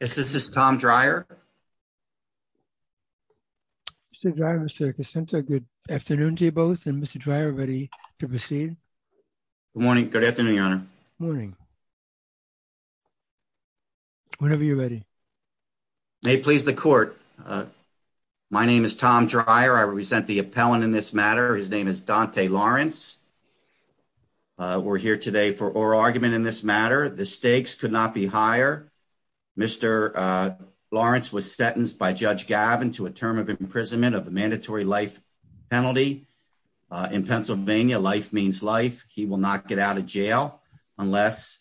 Yes, this is Tom Dreyer. Mr. Dreyer, Mr. Cassento, good afternoon to you both. And Mr. Dreyer, ready to proceed? Good morning. Good afternoon, your honor. Morning. Whenever you're ready. May it please the court. My name is Tom Dreyer. I represent the appellant in this matter. His name is Dante Lawrence. We're here today for oral argument in this matter. The Mr. Lawrence was sentenced by Judge Gavin to a term of imprisonment of a mandatory life penalty in Pennsylvania. Life means life. He will not get out of jail unless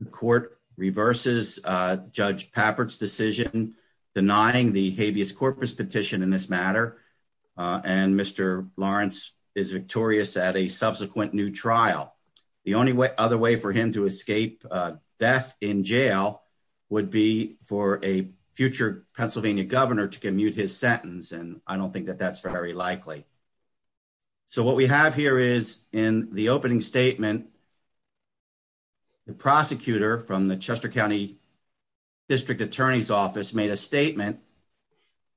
the court reverses Judge Papert's decision denying the habeas corpus petition in this matter. And Mr. Lawrence is victorious at a subsequent new trial. The only other way for him to escape death in jail would be for a future Pennsylvania governor to commute his sentence. And I don't think that that's very likely. So what we have here is in the opening statement, the prosecutor from the Chester County District Attorney's Office made a statement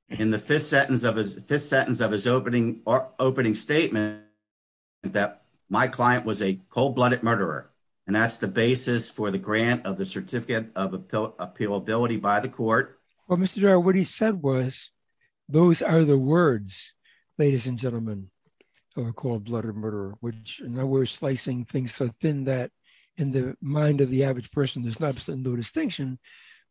in the fifth sentence of his fifth sentence of his opening or opening statement that my client was a cold-blooded murderer. And that's the basis for the grant of the certificate of appealability by the court. Well, Mr. Dreyer, what he said was, those are the words, ladies and gentlemen, of a cold-blooded murderer, which we're slicing things so thin that in the mind of the average person, there's no distinction.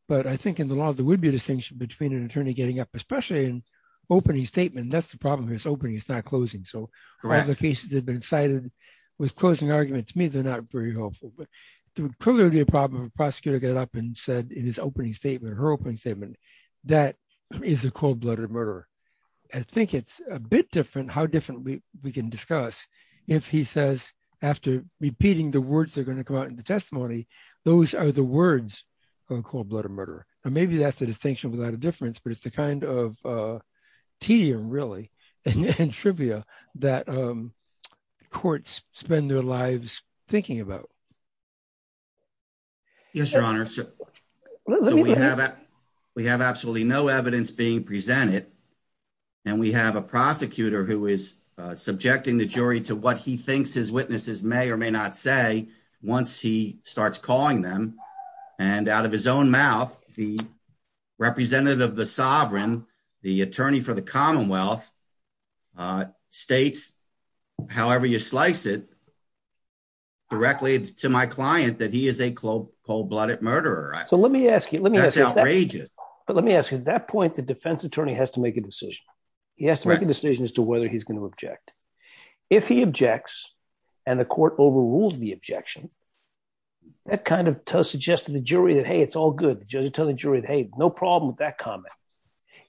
But I think in the law, there would be a distinction between an attorney getting up, especially in opening statement. That's the problem. It's not closing. So applications have been cited with closing argument. To me, they're not very helpful. But there would clearly be a problem if a prosecutor got up and said in his opening statement, her opening statement, that is a cold-blooded murderer. I think it's a bit different how differently we can discuss if he says, after repeating the words that are going to come out in the testimony, those are the words of a cold-blooded murderer. Or maybe that's the distinction without the difference, but it's the kind of tedium, really, and trivia that courts spend their lives thinking about. Yes, Your Honor. So we have absolutely no evidence being presented. And we have a prosecutor who is subjecting the jury to what he thinks his witnesses may or may say once he starts calling them. And out of his own mouth, the representative of the sovereign, the attorney for the Commonwealth, states, however you slice it, directly to my client, that he is a cold-blooded murderer. That's outrageous. But let me ask you, at that point, the defense attorney has to make a decision. He has to make a decision as to whether he's going to object. If he objects and the court overrules the objection, that kind of suggests to the jury that, hey, it's all good. The judge will tell the jury, hey, no problem with that comment.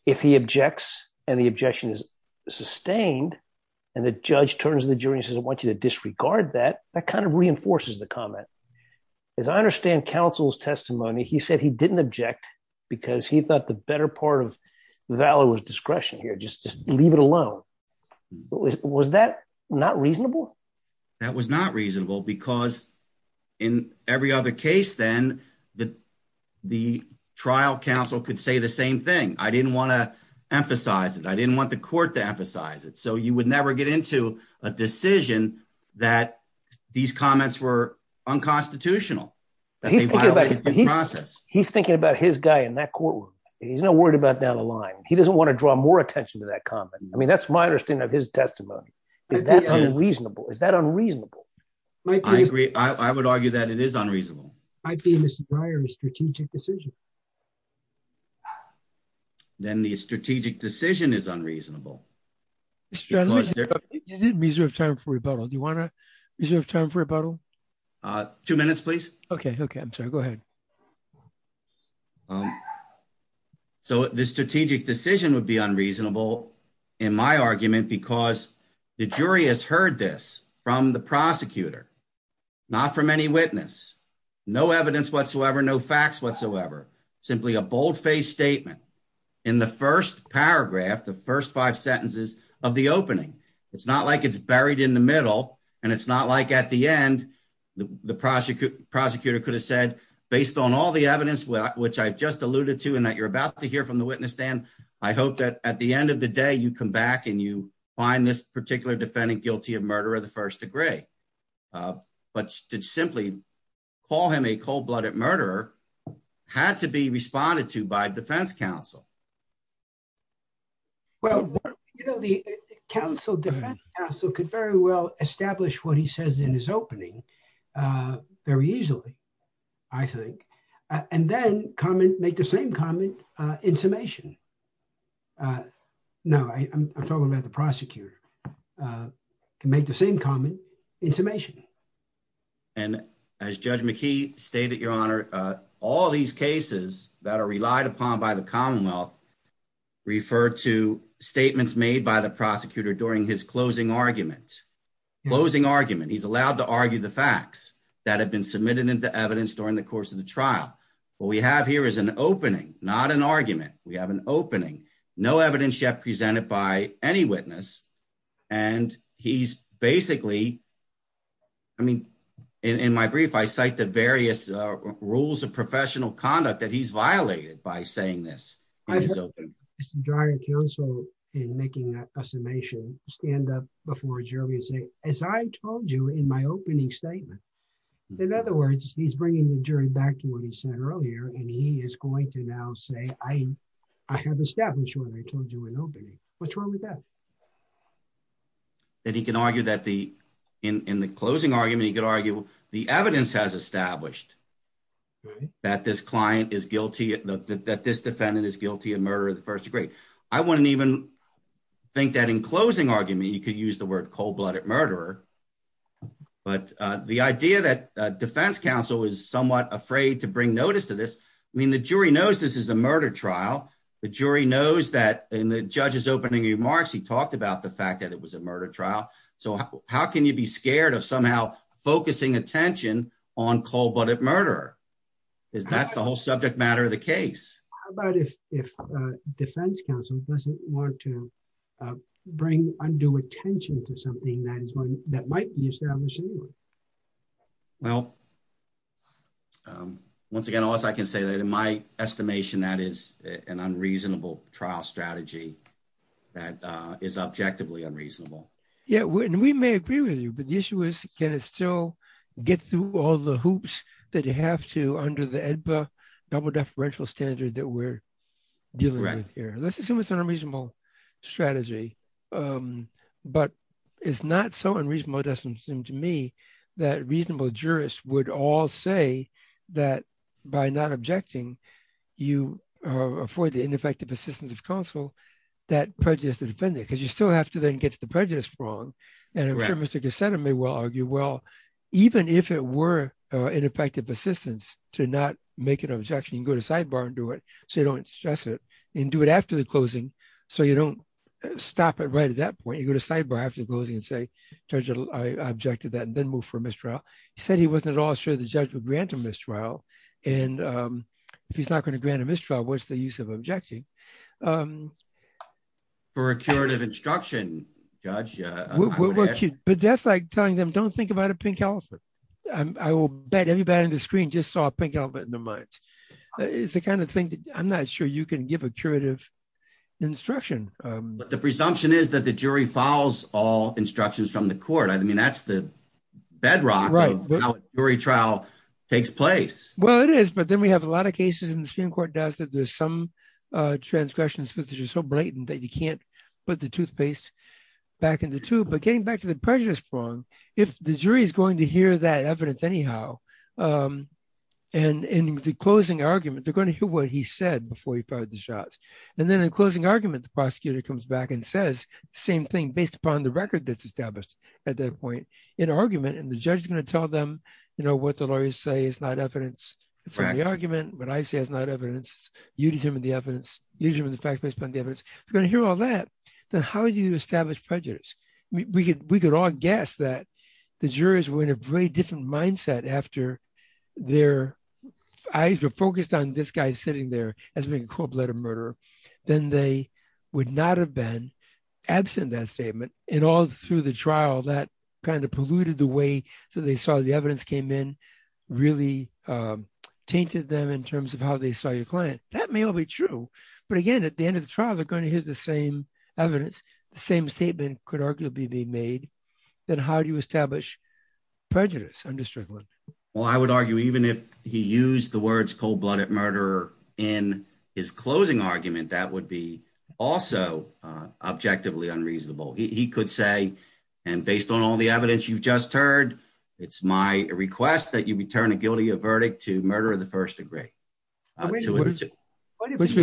If he objects and the objection is sustained and the judge turns to the jury and says, I want you to disregard that, that kind of reinforces the comment. As I understand counsel's testimony, he said he didn't object because he thought the better part of valor was discretion here. Just leave it alone. Was that not reasonable? That was not reasonable because in every other case then, the trial counsel could say the same thing. I didn't want to emphasize it. I didn't want the court to emphasize it. So you would never get into a decision that these comments were unconstitutional, that they violated the process. He's thinking about his guy in that courtroom. He's not worried about down the line. He doesn't want to draw more attention to that comment. I mean, that's my understanding of his testimony. Is that unreasonable? Is that unreasonable? I agree. I would argue that it is unreasonable. I see Mr. Breyer's strategic decision. Then the strategic decision is unreasonable. You didn't reserve time for rebuttal. Do you want to reserve time for rebuttal? Two minutes, please. Okay. Okay. I'm sorry. Go ahead. So the strategic decision would be unreasonable in my argument because the jury has heard this from the prosecutor, not from any witness, no evidence whatsoever, no facts whatsoever, simply a bold-faced statement in the first paragraph, the first five sentences of the opening. It's not like it's buried in the middle and it's not like at the end the prosecutor could have said, based on all the evidence which I just alluded to and that you're about to hear from the witness stand, I hope that at the end of the day, you come back and you find this particular defendant guilty of murder of the first degree. But to simply call him a cold-blooded murderer had to be responded to by defense counsel. Well, you know, the defense counsel could very well establish what he says in his opening very easily, I think, and then make the same comment in summation. No, I'm talking about the prosecutor. He can make the same comment in summation. And as Judge McKee stated, Your Honor, all these cases that are relied upon by the Commonwealth refer to statements made by the prosecutor during his closing argument. Closing argument. He's allowed to argue the facts that have been submitted into evidence during the course of the trial. What we have here is an opening, not an argument. We have an opening. No evidence yet presented by any witness. And he's basically, I mean, in my brief, I cite the various rules of professional conduct that he's violated by saying this. Mr. Dryer, counsel, in making that assumption, stand up before Jury and say, as I told you in my opening statement. In other words, he's bringing the jury back to what he said earlier, and he is going to now say, I have established what I told you in opening. What's wrong with that? That he can argue that the, in the closing argument, he could argue the evidence has established that this client is guilty, that this defendant is guilty of murder of the first degree. I wouldn't even think that in closing argument, you could use the word cold blooded murderer. But the idea that defense counsel is somewhat afraid to bring notice to this, I mean, the jury knows this is a murder trial. The jury knows that in the judge's opening remarks, he talked about the fact that it was a murder trial. So how can you be scared of somehow focusing attention on cold blooded murderer? That's the whole subject matter of the case. How about if defense counsel doesn't want to bring undue attention to something that might be established anyway? Well, once again, I can say that in my estimation, that is an unreasonable trial strategy. That is objectively unreasonable. Yeah, and we may agree with you, but the issue is, can it still get through all the hoops that you have to under the EDPA double deferential standard that we're dealing with here? Let's assume it's an unreasonable strategy. But it's not so unreasonable, it doesn't seem to me, that reasonable jurists would all say that by not objecting, you afford the ineffective assistance of counsel, that prejudice to defend it, because you still have to then get the prejudice wrong. And I'm sure Mr. Cassata may well argue, well, even if it were an effective assistance to not make an objection, you go to sidebar and do it, so you don't stress it and do it after the closing. So you don't stop it right at that point, you go to sidebar after closing and say, judge, I object to that and then move for mistrial. He said he wasn't at all sure the judge would grant a mistrial. And if he's not going to grant a mistrial, what's the use of objecting? For a curative instruction, judge? But that's like telling them, don't think about a pink elephant. I will bet everybody on the screen just saw a pink elephant in their minds. It's the kind of thing that I'm not sure you can give a curative instruction. But the presumption is that the jury files all instructions from the court. I mean, that's the bedrock of how a jury trial takes place. Well, it is. But then we have a lot of cases in the Supreme Court that there's some transgressions which are so blatant that you can't put the toothpaste back in the tube. But getting back to the prejudice prong, if the jury is going to hear that evidence anyhow, and in the closing argument, they're going to hear what he said before he fired the shots. And then in closing argument, the prosecutor comes back and says the same thing based upon the record that's established at that point in argument, and the judge is going to tell them, you know, what the lawyers say is not evidence. It's an argument. What I say is not evidence. You determine the evidence. You determine the fact based upon the evidence. You're going to hear all that. Then how do you establish prejudice? We could all guess that the jurors were in a very different mindset after their eyes were focused on this guy sitting there as being a cold-blooded murderer. Then they would not have been absent that statement. And all through the trial, that kind of polluted the way that they saw the evidence came in, really tainted them in terms of how they saw your client. That may all be true. But again, at the end of the trial, they're going to hear the same evidence, the same statement could arguably be made. Then how do you establish prejudice under Strickland? Well, I would argue even if he used the words cold-blooded murderer in his closing argument, that would be also objectively unreasonable. He could say, and based on all the evidence you've just heard, it's my request that you return a guilty of murder to the first degree. Which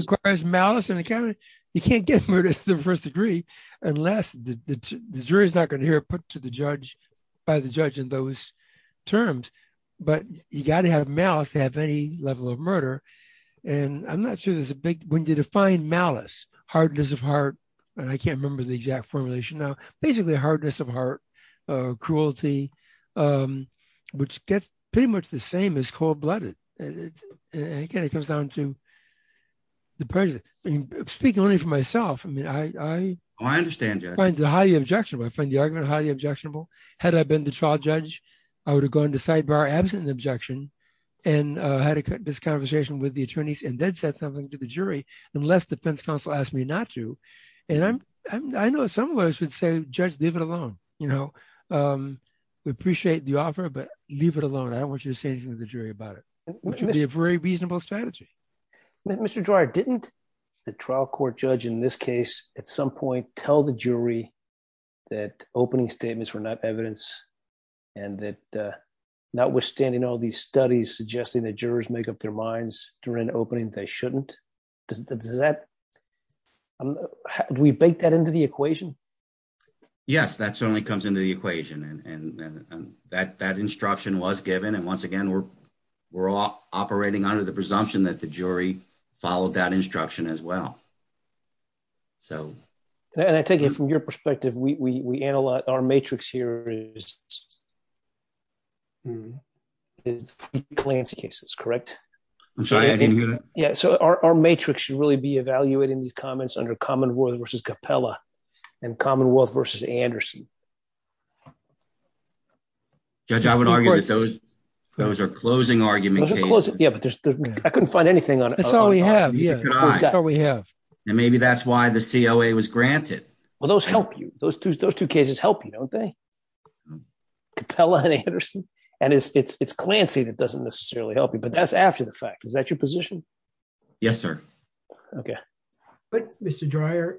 requires malice and accountability. You can't get murder to the first degree unless the jury is not going to hear it put to the judge by the judge in those terms. But you got to have malice to have any level of murder. And I'm not sure there's a big, when you define malice, hardness of heart, and I can't remember the exact formulation now, basically hardness of heart, cruelty, which gets pretty much the same as cold-blooded. And again, it comes down to the prejudice. I mean, speaking only for myself, I mean, I find it highly objectionable. I find the argument highly objectionable. Had I been the trial judge, I would have gone to sidebar, absent an objection, and had this conversation with the attorneys and then said something to the jury, unless the defense counsel asked me not to. And I know some of us would say, judge, leave it alone. We appreciate the offer, but leave it alone. I don't want you to say anything to the jury about it, which would be a very reasonable strategy. Mr. Dreier, didn't the trial court judge in this case at some point tell the jury that opening statements were not evidence and that notwithstanding all these studies suggesting that jurors make up their minds during opening, they shouldn't? Do we bake that into the equation? Yes, that certainly comes into the equation. And that instruction was given. And once again, we're all operating under the presumption that the jury followed that instruction as well. So- And I take it from your perspective, our matrix here is three Glantz cases, correct? I'm sorry, I didn't hear that. Yeah. So our matrix should really be evaluating these comments under Commonwealth versus Capella and Commonwealth versus Anderson. Judge, I would argue that those are closing argument cases. Yeah, but I couldn't find anything on- That's all we have. Yeah, that's all we have. And maybe that's why the COA was granted. Well, those help you. Those two cases help you, don't they? Capella and Anderson. And it's Clancy that doesn't necessarily help you, but that's after the fact. Is that your position? Yes, sir. Okay. But Mr. Dreyer,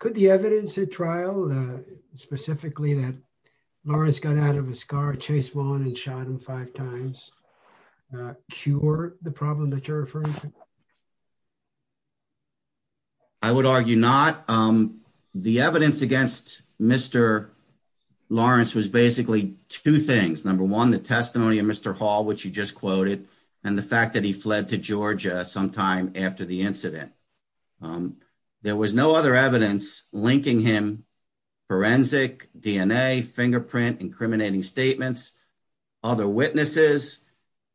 could the evidence at trial, specifically that Lawrence got out of his car, chased one and shot him five times, cure the problem that you're referring to? I would argue not. The evidence against Mr. Lawrence was basically two things. Number one, the testimony of Mr. Hall, which you just quoted, and the fact that he fled to Georgia sometime after the incident. There was no other evidence linking him, forensic, DNA, fingerprint, incriminating statements, other witnesses,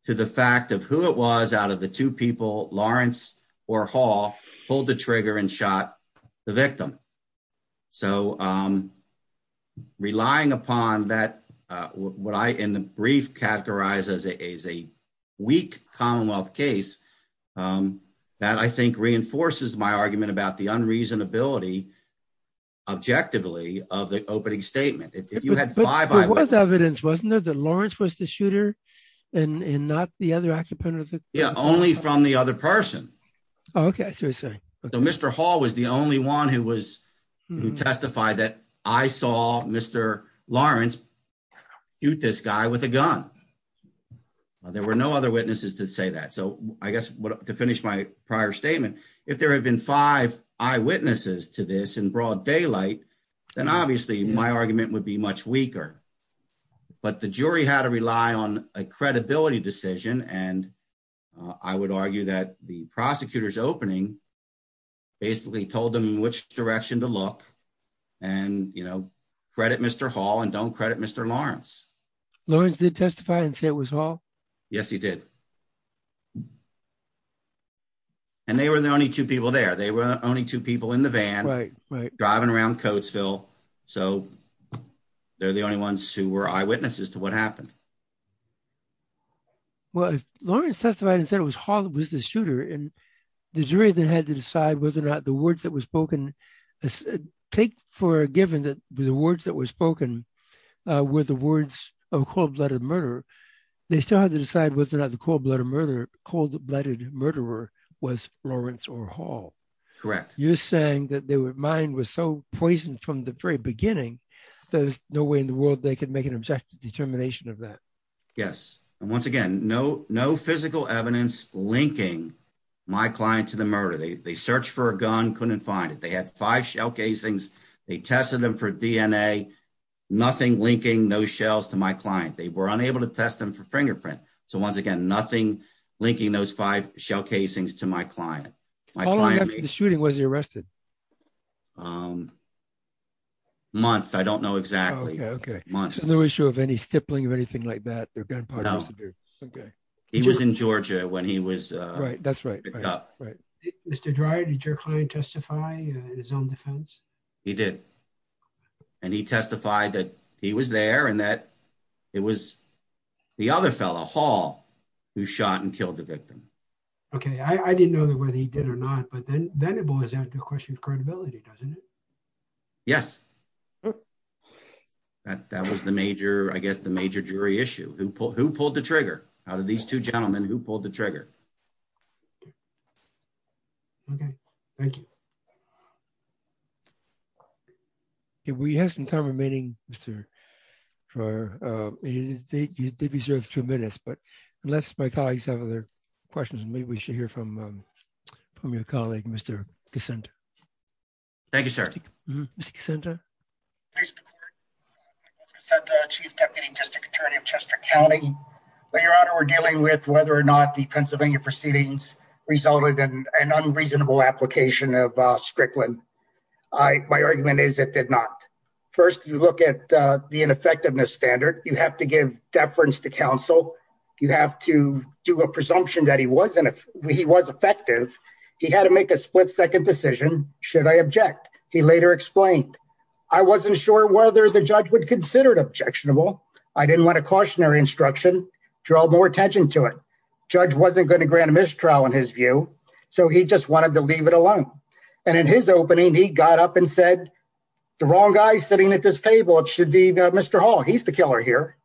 to the fact of who it was out of the two people, Lawrence or Hall, pulled the trigger and shot the victim. So relying upon that, what I, in the brief, categorize as a weak Commonwealth case, that I think reinforces my argument about the unreasonability, objectively, of the opening statement. But there was evidence, wasn't there, that Lawrence was the shooter and not the other occupant? Yeah, only from the other person. Okay. So, Mr. Hall was the only one who testified that I saw Mr. Lawrence shoot this guy with a gun. There were no other witnesses to say that. So I guess, to finish my prior statement, if there had been five eyewitnesses to this in broad daylight, then obviously my argument would be much weaker. But the jury had to rely on a credibility decision, and I would argue that the prosecutor's opening basically told them which direction to look, and, you know, credit Mr. Hall and don't credit Mr. Lawrence. Lawrence did testify and say it was Hall? Yes, he did. And they were the only two people there. They were the only two people in the van, driving around Coatesville. So they're the only ones who were eyewitnesses to what happened. Well, if Lawrence testified and said it was Hall that was the shooter, and the jury then had to take for a given that the words that were spoken were the words of a cold-blooded murderer, they still had to decide whether or not the cold-blooded murderer was Lawrence or Hall. Correct. You're saying that mine was so poisoned from the very beginning, there's no way in the world they could make an objective determination of that. Yes. And once again, no physical evidence linking my client to the murder. They searched for a gun, couldn't find it. They had five shell casings. They tested them for DNA, nothing linking those shells to my client. They were unable to test them for fingerprint. So once again, nothing linking those five shell casings to my client. How long after the shooting was he arrested? Months. I don't know exactly. Okay. Months. No issue of any stippling of anything like that? No. He was in Georgia when he was picked up. Right. That's right. Mr. Dreier, did your client testify in his own defense? He did. And he testified that he was there and that it was the other fellow, Hall, who shot and killed the victim. Okay. I didn't know whether he did or not, but then it boils down to a question of credibility, doesn't it? Yes. That was the major jury issue. Who pulled the trigger out of these two gentlemen? Who pulled the trigger? Okay. Thank you. We have some time remaining, Mr. Dreier. You did reserve two minutes, but unless my colleagues have other questions, maybe we should hear from your colleague, Mr. Cassenta. Thank you, sir. Mr. Cassenta? Mr. Cassenta, Chief Deputy District Attorney of Chester County. Your Honor, we're dealing with whether or not the Pennsylvania proceedings resulted in an unreasonable application of Strickland. My argument is it did not. First, you look at the ineffectiveness standard. You have to give deference to counsel. You have to do a presumption that he was effective. He had to make a split-second decision, should I object? He later explained, I wasn't sure whether the judge would consider it objectionable. I didn't want a cautionary instruction, draw more attention to it. Judge wasn't going to grant a mistrial in his view, so he just wanted to leave it alone. In his opening, he got up and said, the wrong guy sitting at this table. It should be Mr. Hall. He's the killer here.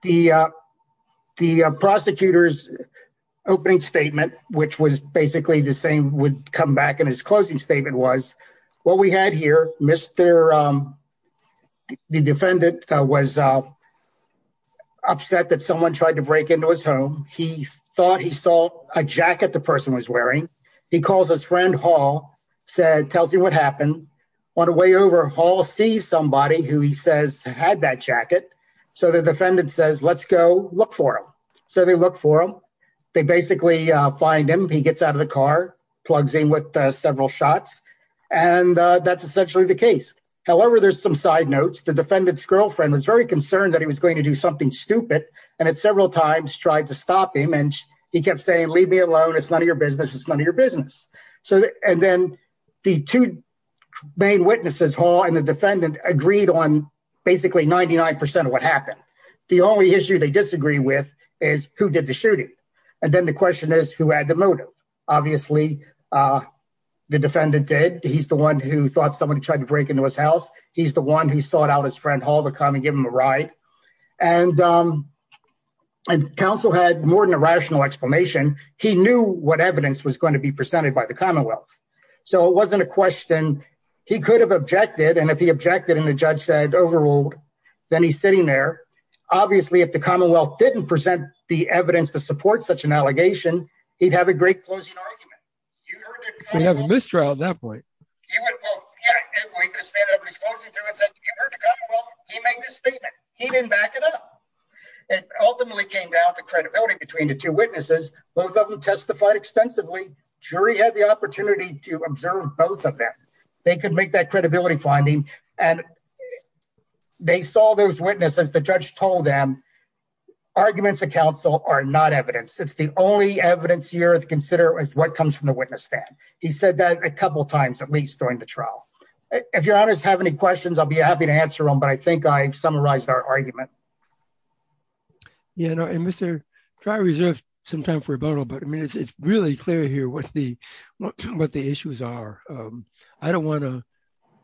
The prosecutor's opening statement, which was basically the same, would come back and his closing statement was, what we had here, the defendant was upset that someone tried to break into his home. He thought he saw a jacket the person was wearing. He calls his friend Hall, tells him what happened. On the way over, Hall sees somebody who he says had that jacket. The defendant says, let's go look for him. They look for him. They basically find him. He gets out of the car, plugs in with several shots. That's essentially the case. However, there's some side notes. The defendant's girlfriend was very concerned that he was going to do something stupid and had several times tried to stop him. He kept saying, leave me alone. It's none of your business. It's none of your business. Then the two main witnesses, Hall and the defendant, agreed on basically 99% of what happened. The only issue they disagree with is, who did the shooting? Then the question is, who had the motive? Obviously, the defendant did. He's the one who thought someone tried to break into his house. He's the one who sought out his friend Hall to come and give him a ride. Counsel had more than a rational explanation. He knew what evidence was going to be presented by the Commonwealth. It wasn't a question. He could have objected. If he objected and the judge said, overruled, then he's sitting there. Obviously, if the Commonwealth didn't present the evidence to support such an allegation, he'd have a great closing argument. You heard the Commonwealth- You'd have a mistrial at that point. He went, well, yeah, at that point, he could have said that, but he's closing through and said, if you heard the Commonwealth, he made this statement. He didn't back it up. It ultimately came down to credibility between the two witnesses. Both of them testified extensively. Jury had the opportunity to observe both of them. They could make that credibility finding. They saw those witnesses. The judge told them, arguments of counsel are not evidence. It's the only evidence you have to consider is what comes from the witness stand. He said that a couple of times, at least during the trial. If your honors have any questions, I'll be happy to answer them, but I think I've summarized our argument. Yeah, no, and Mr. Dry, reserve some time for rebuttal, but I mean, it's really clear here what the issues are. I don't want to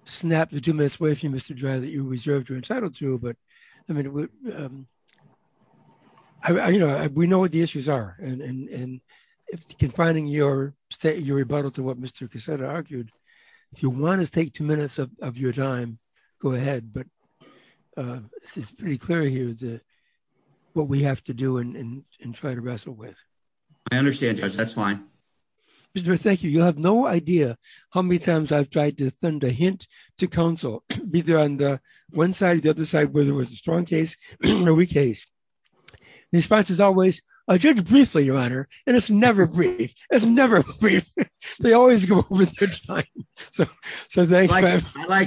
snap the two minutes away from you, Mr. Dry, that you reserved your entitlement to, but I mean, we know what the issues are. Confining your rebuttal to what Mr. Cassata argued, if you want to take two minutes of your time, go ahead, but it's pretty clear here what we have to do and try to wrestle with. I understand, Judge. That's fine. Mr. Dry, thank you. You'll have no idea how many times I've tried to send a hint to counsel, either on the one side or the other side, whether it was a strong case or a weak case. The response is always, I'll judge briefly, your honor, and it's never brief. It's never brief. I like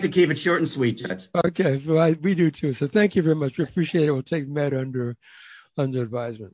to keep it short and sweet, Judge. Okay, we do too, so thank you very much. We appreciate it. We'll take it under advisement.